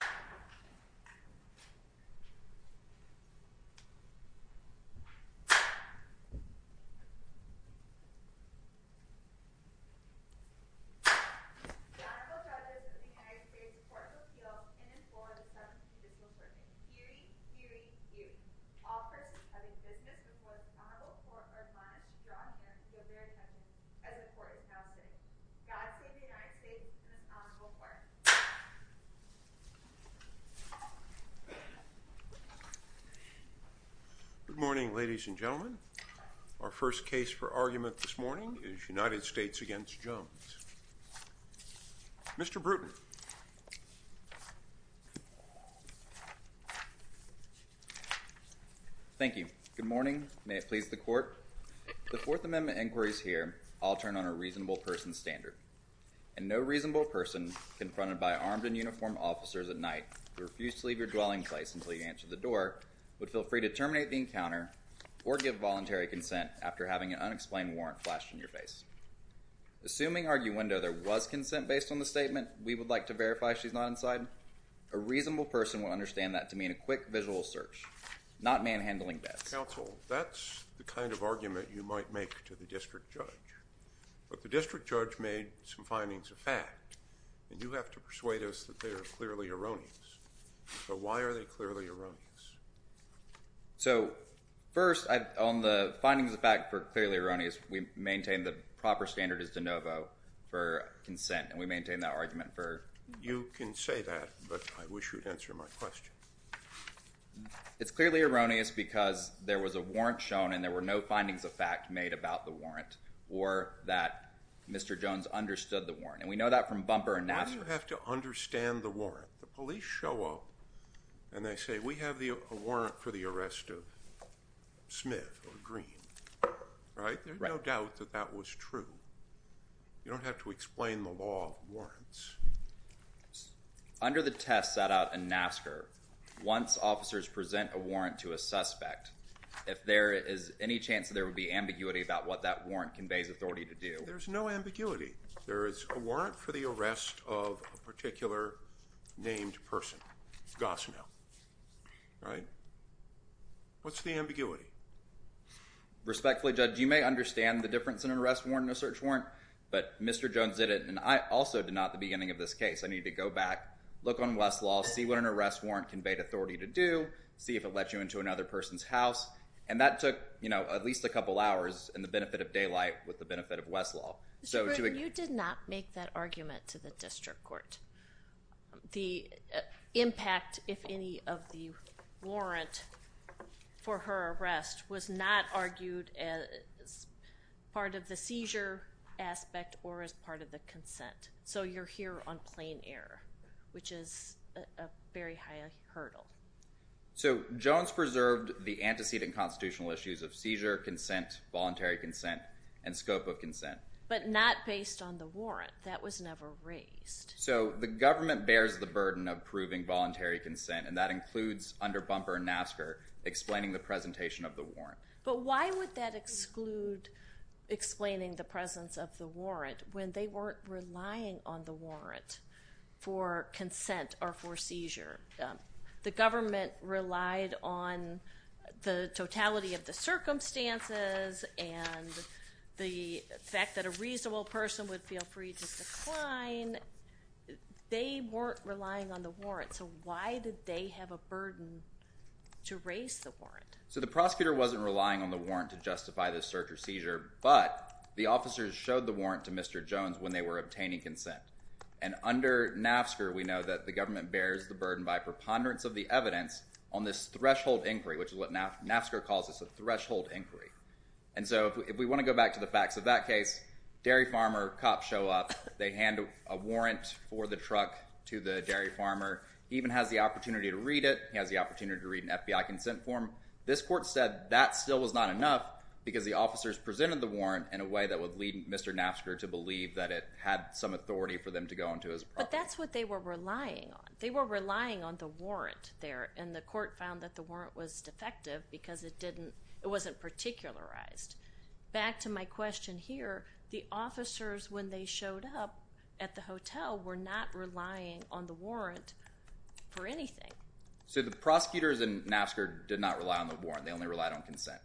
The Honorable Judges of the United States Court of Appeals in this Board of Seven Judicial Sessions. Hearing, hearing, hearing. Office of Injustice before the Honorable Court of Law, Judge and Prosecutor's Attorney, and the Court of Appeals. Judge of the United States and the Honorable Court. Good morning, ladies and gentlemen. Our first case for argument this morning is United States v. Jones. Mr. Bruton. Thank you. Good morning. May it please the Court. The Fourth Amendment inquiries here all turn on a reasonable person standard. And no reasonable person confronted by armed and uniformed officers at night who refused to leave your dwelling place until you answered the door would feel free to terminate the encounter or give voluntary consent after having an unexplained warrant flashed in your face. Assuming, arguendo, there was consent based on the statement, we would like to verify she's not inside, a reasonable person would understand that to mean a quick visual search, not manhandling bets. Counsel, that's the kind of argument you might make to the district judge. But the district judge made some findings of fact, and you have to persuade us that they are clearly erroneous. So why are they clearly erroneous? So, first, on the findings of fact for clearly erroneous, we maintain the proper standard is de novo for consent, and we maintain that argument for— You can say that, but I wish you'd answer my question. It's clearly erroneous because there was a warrant shown, and there were no findings of fact made about the warrant, or that Mr. Jones understood the warrant. And we know that from Bumper and Nassar. Why do you have to understand the warrant? The police show up, and they say, we have a warrant for the arrest of Smith or Green, right? There's no doubt that that was true. You don't have to explain the law of warrants. Under the test set out in Nassar, once officers present a warrant to a suspect, if there is any chance that there would be ambiguity about what that warrant conveys authority to do— There's no ambiguity. There is a warrant for the arrest of a particular named person, Gosnell, right? What's the ambiguity? Respectfully, Judge, you may understand the difference in an arrest warrant and a search warrant, but Mr. Jones did it, and I also did not at the beginning of this case. I needed to go back, look on Westlaw, see what an arrest warrant conveyed authority to do, see if it let you into another person's house. And that took, you know, at least a couple hours in the benefit of daylight with the benefit of Westlaw. You did not make that argument to the district court. The impact, if any, of the warrant for her arrest was not argued as part of the seizure aspect or as part of the consent. So you're here on plain error, which is a very high hurdle. So Jones preserved the antecedent constitutional issues of seizure, consent, voluntary consent, and scope of consent. But not based on the warrant. That was never raised. So the government bears the burden of proving voluntary consent, and that includes under bumper Nassar explaining the presentation of the warrant. But why would that exclude explaining the presence of the warrant when they weren't relying on the warrant for consent or for seizure? The government relied on the totality of the circumstances and the fact that a reasonable person would feel free to decline. They weren't relying on the warrant. So the prosecutor wasn't relying on the warrant to justify the search or seizure, but the officers showed the warrant to Mr. Jones when they were obtaining consent. And under Nassar we know that the government bears the burden by preponderance of the evidence on this threshold inquiry, which is what Nassar calls a threshold inquiry. And so if we want to go back to the facts of that case, dairy farmer, cops show up, they hand a warrant for the truck to the dairy farmer. He even has the opportunity to read it. He has the opportunity to read an FBI consent form. This court said that still was not enough because the officers presented the warrant in a way that would lead Mr. Nassar to believe that it had some authority for them to go into his property. But that's what they were relying on. They were relying on the warrant there, and the court found that the warrant was defective because it wasn't particularized. Back to my question here, the officers when they showed up at the hotel were not relying on the warrant for anything. So the prosecutors in Nassar did not rely on the warrant. They only relied on consent.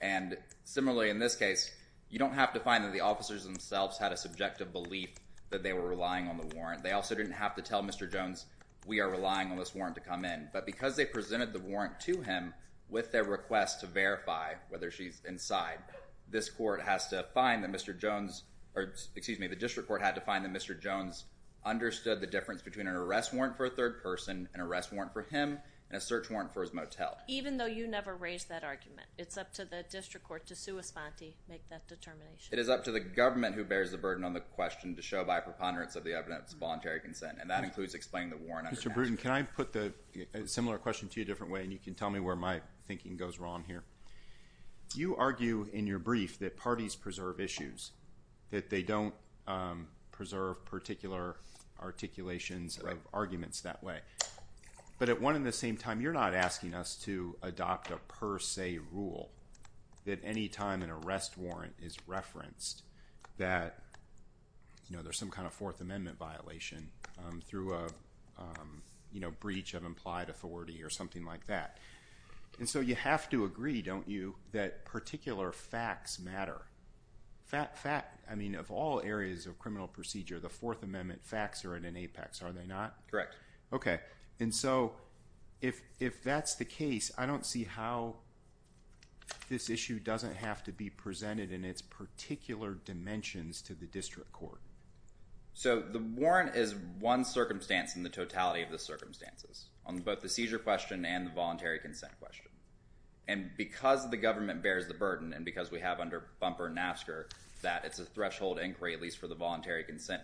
And similarly in this case, you don't have to find that the officers themselves had a subjective belief that they were relying on the warrant. They also didn't have to tell Mr. Jones, we are relying on this warrant to come in. But because they presented the warrant to him with their request to verify whether she's inside, this court has to find that Mr. Jones, or excuse me, the district court had to find that Mr. Jones understood the difference between an arrest warrant for a third person and an arrest warrant for him and a search warrant for his motel. Even though you never raised that argument. It's up to the district court to make that determination. It is up to the government who bears the burden on the question to show by preponderance of the evidence voluntary consent, and that includes explaining the warrant. Mr. Brewton, can I put a similar question to you a different way, and you can tell me where my thinking goes wrong here. You argue in your brief that parties preserve issues, that they don't preserve particular articulations of arguments that way. But at one and the same time, you're not asking us to adopt a per se rule that any time an arrest warrant is referenced that there's some kind of Fourth Amendment violation through a breach of implied authority or something like that. You have to agree, don't you, that particular facts matter. I mean, of all areas of criminal procedure, the Fourth Amendment facts are at an apex, are they not? Correct. Okay. And so if that's the case, I don't see how this issue doesn't have to be presented in its particular dimensions to the district court. So the warrant is one circumstance in the totality of the circumstances on both the seizure question and the voluntary consent question. And because the government bears the burden, and because we have under bumper NAFSCAR that it's a threshold inquiry, at least for the voluntary consent,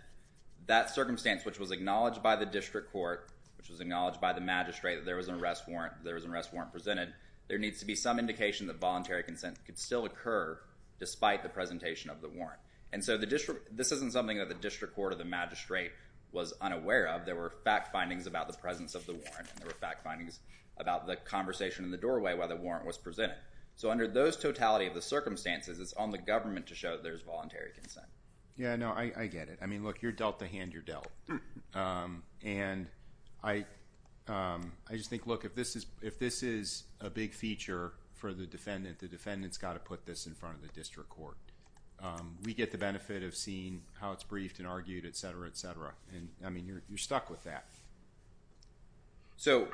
that circumstance, which was acknowledged by the district court, which was acknowledged by the magistrate that there was an arrest warrant presented, there needs to be some indication that voluntary consent could still occur despite the presentation of the warrant. And so this isn't something that the district court or the magistrate was unaware of. There were fact findings about the presence of the warrant, and there were fact findings about the conversation in the doorway while the warrant was presented. So under those totality of the circumstances, it's on the government to show that there's voluntary consent. Yeah, no, I get it. I mean, look, you're dealt the hand you're dealt. And I just think, look, if this is a big feature for the defendant, the defendant's got to put this in front of the district court. We get the benefit of seeing how it's briefed and argued, et cetera, et cetera. And I mean, you're stuck with that. So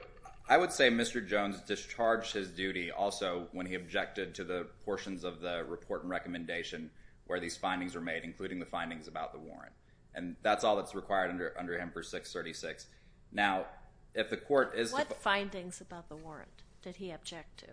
I would say Mr. Jones discharged his duty also when he objected to the portions of the report and recommendation where these findings were made, including the findings about the warrant. And that's all that's required under him for 636. Now, if the court is to... What findings about the warrant did he object to?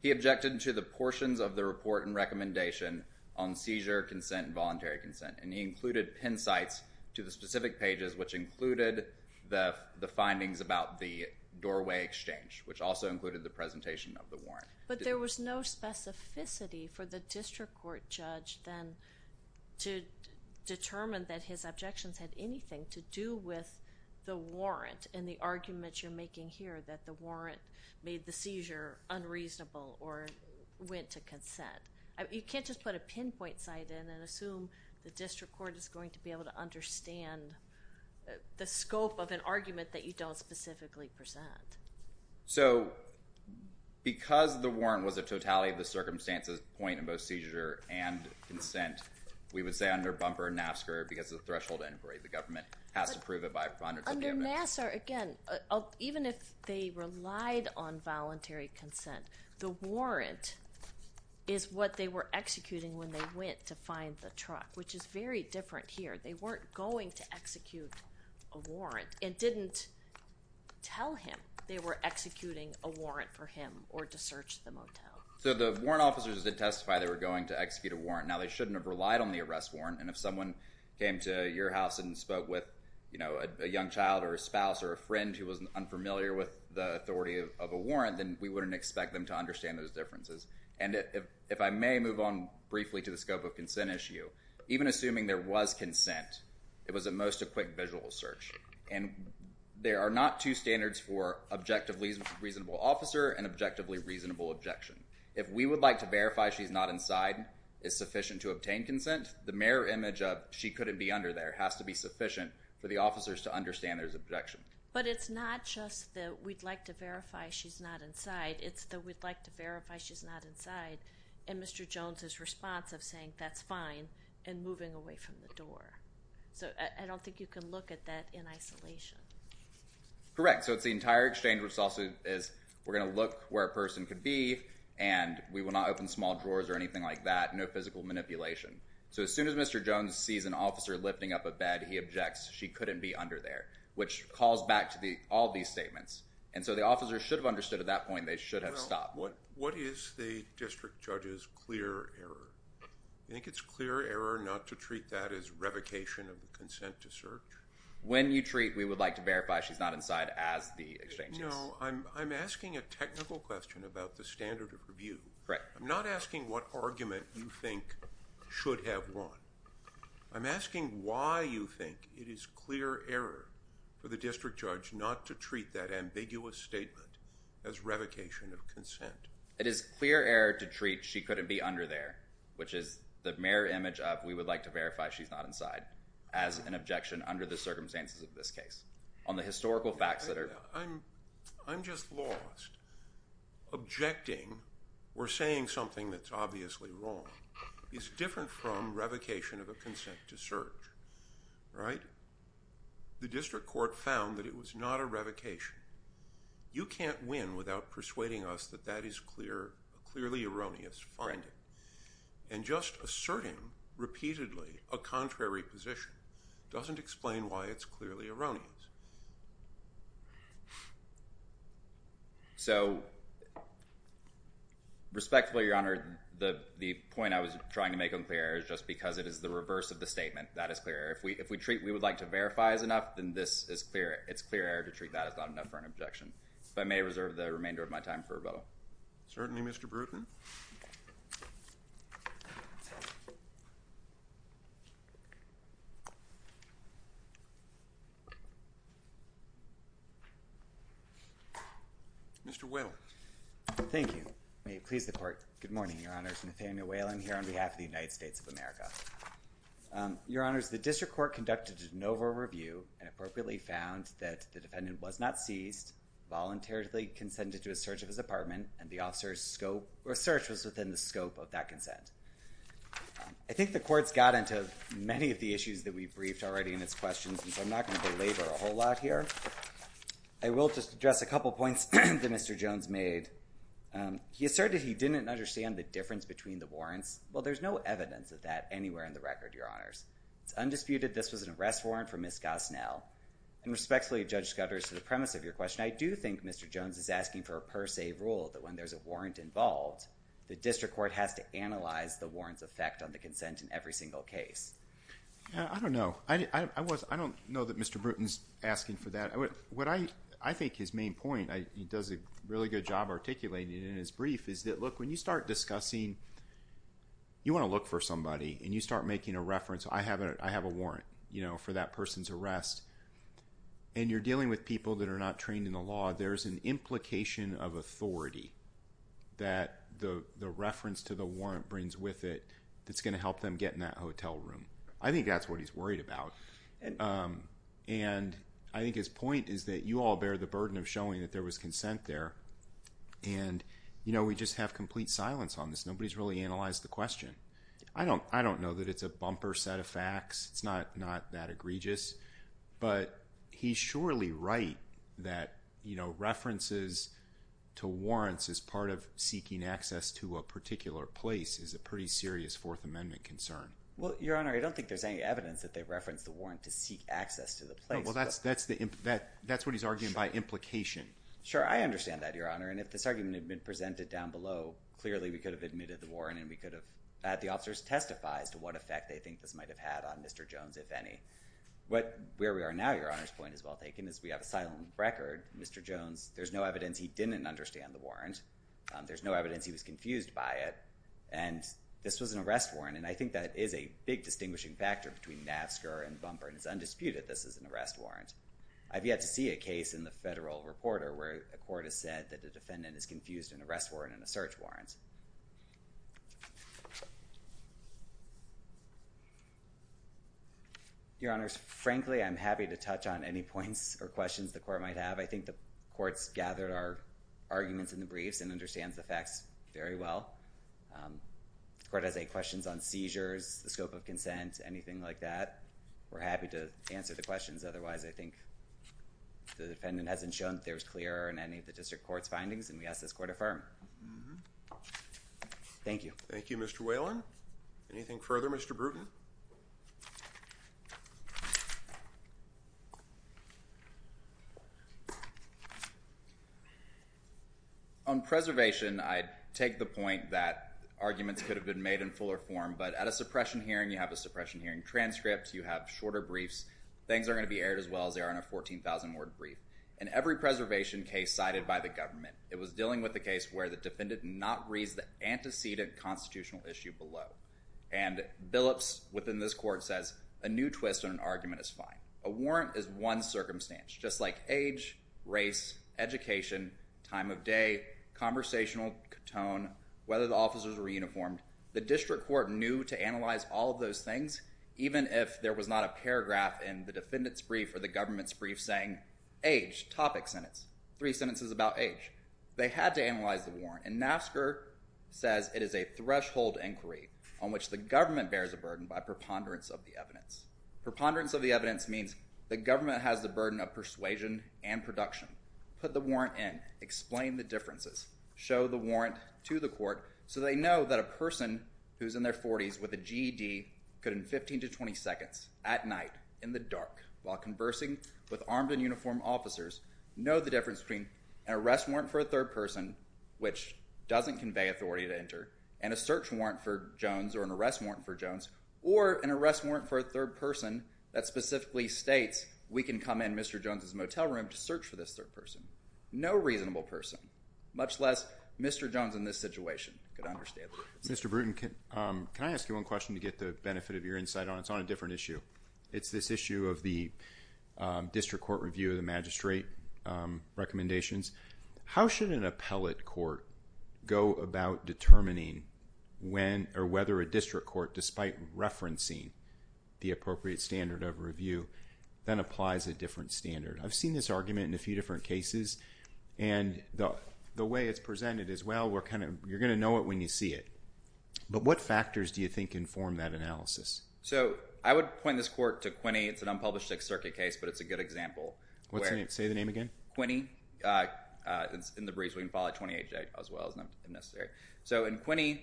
He objected to the portions of the report and recommendation on seizure, consent, and voluntary consent. And he included pin sites to the specific pages, which included the findings about the doorway exchange, which also included the presentation of the warrant. But there was no specificity for the district court judge then to determine that his objections had anything to do with the warrant and the arguments you're making here that the warrant made the seizure unreasonable or went to consent. You can't just put a pinpoint site in and assume the district court is going to be able to understand the scope of an argument that you don't specifically present. So because the warrant was a totality of the circumstances point of both seizure and consent, we would say under bumper NAFSCR, because of the threshold entry, the government has to prove it by... Under NAFSCR, again, even if they relied on voluntary consent, the warrant is what the were executing when they went to find the truck, which is very different here. They weren't going to execute a warrant and didn't tell him they were executing a warrant for him or to search the motel. So the warrant officers did testify they were going to execute a warrant. Now, they shouldn't have relied on the arrest warrant. And if someone came to your house and spoke with a young child or a spouse or a friend who was unfamiliar with the authority of a warrant, then we wouldn't expect them to understand those differences. And if I may move on briefly to the scope of consent issue, even assuming there was consent, it was at most a quick visual search. And there are not two standards for objectively reasonable officer and objectively reasonable objection. If we would like to verify she's not inside is sufficient to obtain consent, the mirror image of she couldn't be under there has to be sufficient for the officers to understand there's objection. But it's not just that we'd like to verify she's not inside. It's that we'd like to verify she's not inside. And Mr. Jones' response of saying that's fine and moving away from the door. So I don't think you can look at that in isolation. Correct. So it's the entire exchange which also is we're going to look where a person could be and we will not open small drawers or anything like that. No physical manipulation. So as soon as Mr. Jones sees an officer lifting up a bed, he objects she couldn't be under there, which calls back to all these statements. And so the officers should have understood at that point they should have stopped. Well, what is the district judge's clear error? You think it's clear error not to treat that as revocation of the consent to search? When you treat we would like to verify she's not inside as the exchange is. No, I'm asking a technical question about the standard of review. Correct. I'm not asking what argument you think should have won. I'm asking why you think it is clear error for the district judge not to treat that ambiguous statement as revocation of consent. It is clear error to treat she couldn't be under there, which is the mirror image of we would like to verify she's not inside as an objection under the circumstances of this case on the historical facts that are... I'm just lost. Objecting or saying something that's obviously wrong is different from revocation of a consent to search, right? The district court found that it was not a revocation. You can't win without persuading us that that is clearly erroneous finding. And just asserting repeatedly a contrary position doesn't explain why it's clearly erroneous. So, respectfully, Your Honor, the point I was trying to make on clear error is just because it is the reverse of the statement. That is clear error. If we treat we would like to verify as enough, then this is clear. It's clear error to treat that as not enough for an objection. If I may reserve the remainder of my time for rebuttal. Certainly, Mr. Brewton. Mr. Whalen. Thank you. May it please the Court. Good morning, Your Honors. Nathaniel Whalen here on behalf of the United States of America. Your Honors, the district court conducted a de novo review and appropriately found that the defendant was not seized, voluntarily consented to a search of his apartment, and the officer's scope or search was within the scope of that consent. I think the courts got into many of the issues that we briefed already in its questions, and so I'm not going to belabor a whole lot here. I will just address a couple points that Mr. Jones made. He asserted he didn't understand the difference between the warrants. Well, there's no evidence of that anywhere in the record, Your Honors. It's undisputed this was an arrest warrant for Ms. Gosnell. And respectfully, Judge Scudders, to the premise of your question, I do think Mr. Jones is asking for a per se rule that when there's a warrant involved, the district court has to analyze the warrant's effect on the consent in every single case. I don't know. I don't know that Mr. Bruton's asking for that. I think his main point, he does a really good job articulating it in his brief, is that, look, when you start discussing, you want to look for somebody, and you start making a reference, I have a warrant for that person's arrest, and you're dealing with people that are not trained in the law, there's an implication of authority that the reference to the warrant brings with it that's going to help them get in that hotel room. I think that's what he's worried about. And I think his point is that you all bear the burden of showing that there was consent there, and we just have complete silence on this. Nobody's really analyzed the question. I don't know that it's a bumper set of facts. It's not that egregious. But he's surely right that references to warrants as part of seeking access to a particular place is a pretty serious Fourth Amendment concern. Well, Your Honor, I don't think there's any evidence that they referenced the warrant to seek access to the place. Well, that's what he's arguing by implication. Sure. I understand that, Your Honor. And if this argument had been presented down below, clearly we could have admitted the warrant, and we could have had the officers testify as to what effect they think this might have had on Mr. Jones, if any. Where we are now, Your Honor's point is well taken, is we have a silent record. Mr. Jones, there's no evidence he didn't understand the warrant. There's no evidence he was confused by it. And this was an arrest warrant. And I think that is a big distinguishing factor between NAFSCAR and bumper. And it's undisputed this is an arrest warrant. I've yet to see a case in the Federal Reporter where a court has said that the defendant is confused in an arrest warrant and a search warrant. Your Honors, frankly, I'm happy to touch on any points or questions the court might have. I think the court's gathered our arguments in the briefs and understands the facts very well. The court has eight questions on seizures, the scope of consent, anything like that. We're happy to answer the questions. Otherwise, I think the defendant hasn't shown that there's clear in any of the district court's findings, and we ask this court affirm. Thank you. Thank you, Mr. Whalen. Anything further, Mr. Bruton? On preservation, I take the point that arguments could have been made in fuller form, but at a suppression hearing, you have a suppression hearing transcript, you have shorter briefs. Things are going to be aired as well as they are in a 14,000-word brief. In every preservation case cited by the government, it was dealing with a case where the defendant did not raise the antecedent constitutional issue below. Billups, within this court, says a new twist on an argument is fine. A warrant is one circumstance, just like age, race, education, time of day, conversational tone, whether the officers were uniformed. The district court knew to analyze all of those things, even if there was not a paragraph in the defendant's brief or the government's brief saying, age, topic sentence, three sentences about age. They had to analyze the warrant. And NASCAR says it is a threshold inquiry on which the government bears a burden by preponderance of the evidence. Preponderance of the evidence means the government has the burden of persuasion and production. Put the warrant in. Explain the differences. Show the warrant to the court so they know that a person who is in their 40s with a GED could, in 15 to 20 seconds, at night, in the dark, while conversing with armed and uniformed doesn't convey authority to enter, and a search warrant for Jones, or an arrest warrant for Jones, or an arrest warrant for a third person that specifically states we can come in Mr. Jones' motel room to search for this third person. No reasonable person, much less Mr. Jones in this situation, could understand that. Mr. Bruton, can I ask you one question to get the benefit of your insight on it? It's on a different issue. It's this issue of the district court review of the magistrate recommendations. How should an appellate court go about determining when or whether a district court, despite referencing the appropriate standard of review, then applies a different standard? I've seen this argument in a few different cases, and the way it's presented is, well, you're going to know it when you see it. But what factors do you think inform that analysis? I would point this court to Quinney. It's an unpublished Sixth Circuit case, but it's a good example. What's the name? Say the name again. Quinney. It's in the briefs. We can call it 28-J as well as not necessary. So in Quinney,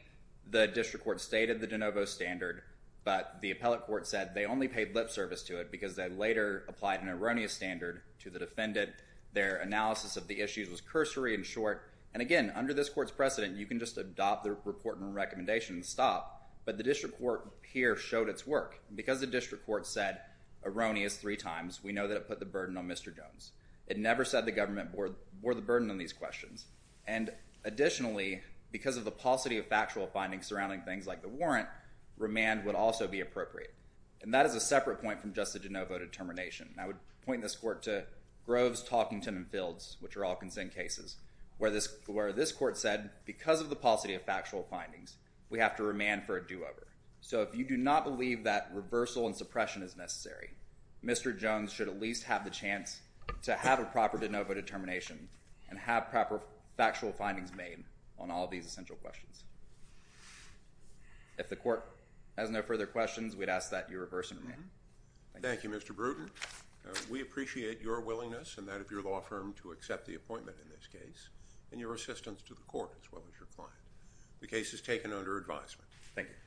the district court stated the de novo standard, but the appellate court said they only paid lip service to it because they later applied an erroneous standard to the defendant. Their analysis of the issues was cursory and short, and again, under this court's precedent, you can just adopt the report and recommendation and stop, but the district court here showed its work. Because the district court said erroneous three times, we know that it put the burden on Mr. Jones. It never said the government bore the burden on these questions, and additionally, because of the paucity of factual findings surrounding things like the warrant, remand would also be appropriate. And that is a separate point from just the de novo determination. I would point this court to Groves, Talkington, and Fields, which are all consent cases, where this court said because of the paucity of factual findings, we have to remand for a do-over. So if you do not believe that reversal and suppression is necessary, Mr. Jones should at least have the chance to have a proper de novo determination and have proper factual findings made on all of these essential questions. If the court has no further questions, we'd ask that you reverse and remand. Thank you. Thank you, Mr. Brewton. We appreciate your willingness and that of your law firm to accept the appointment in this case and your assistance to the court as well as your client. The case is taken under advisement. Thank you.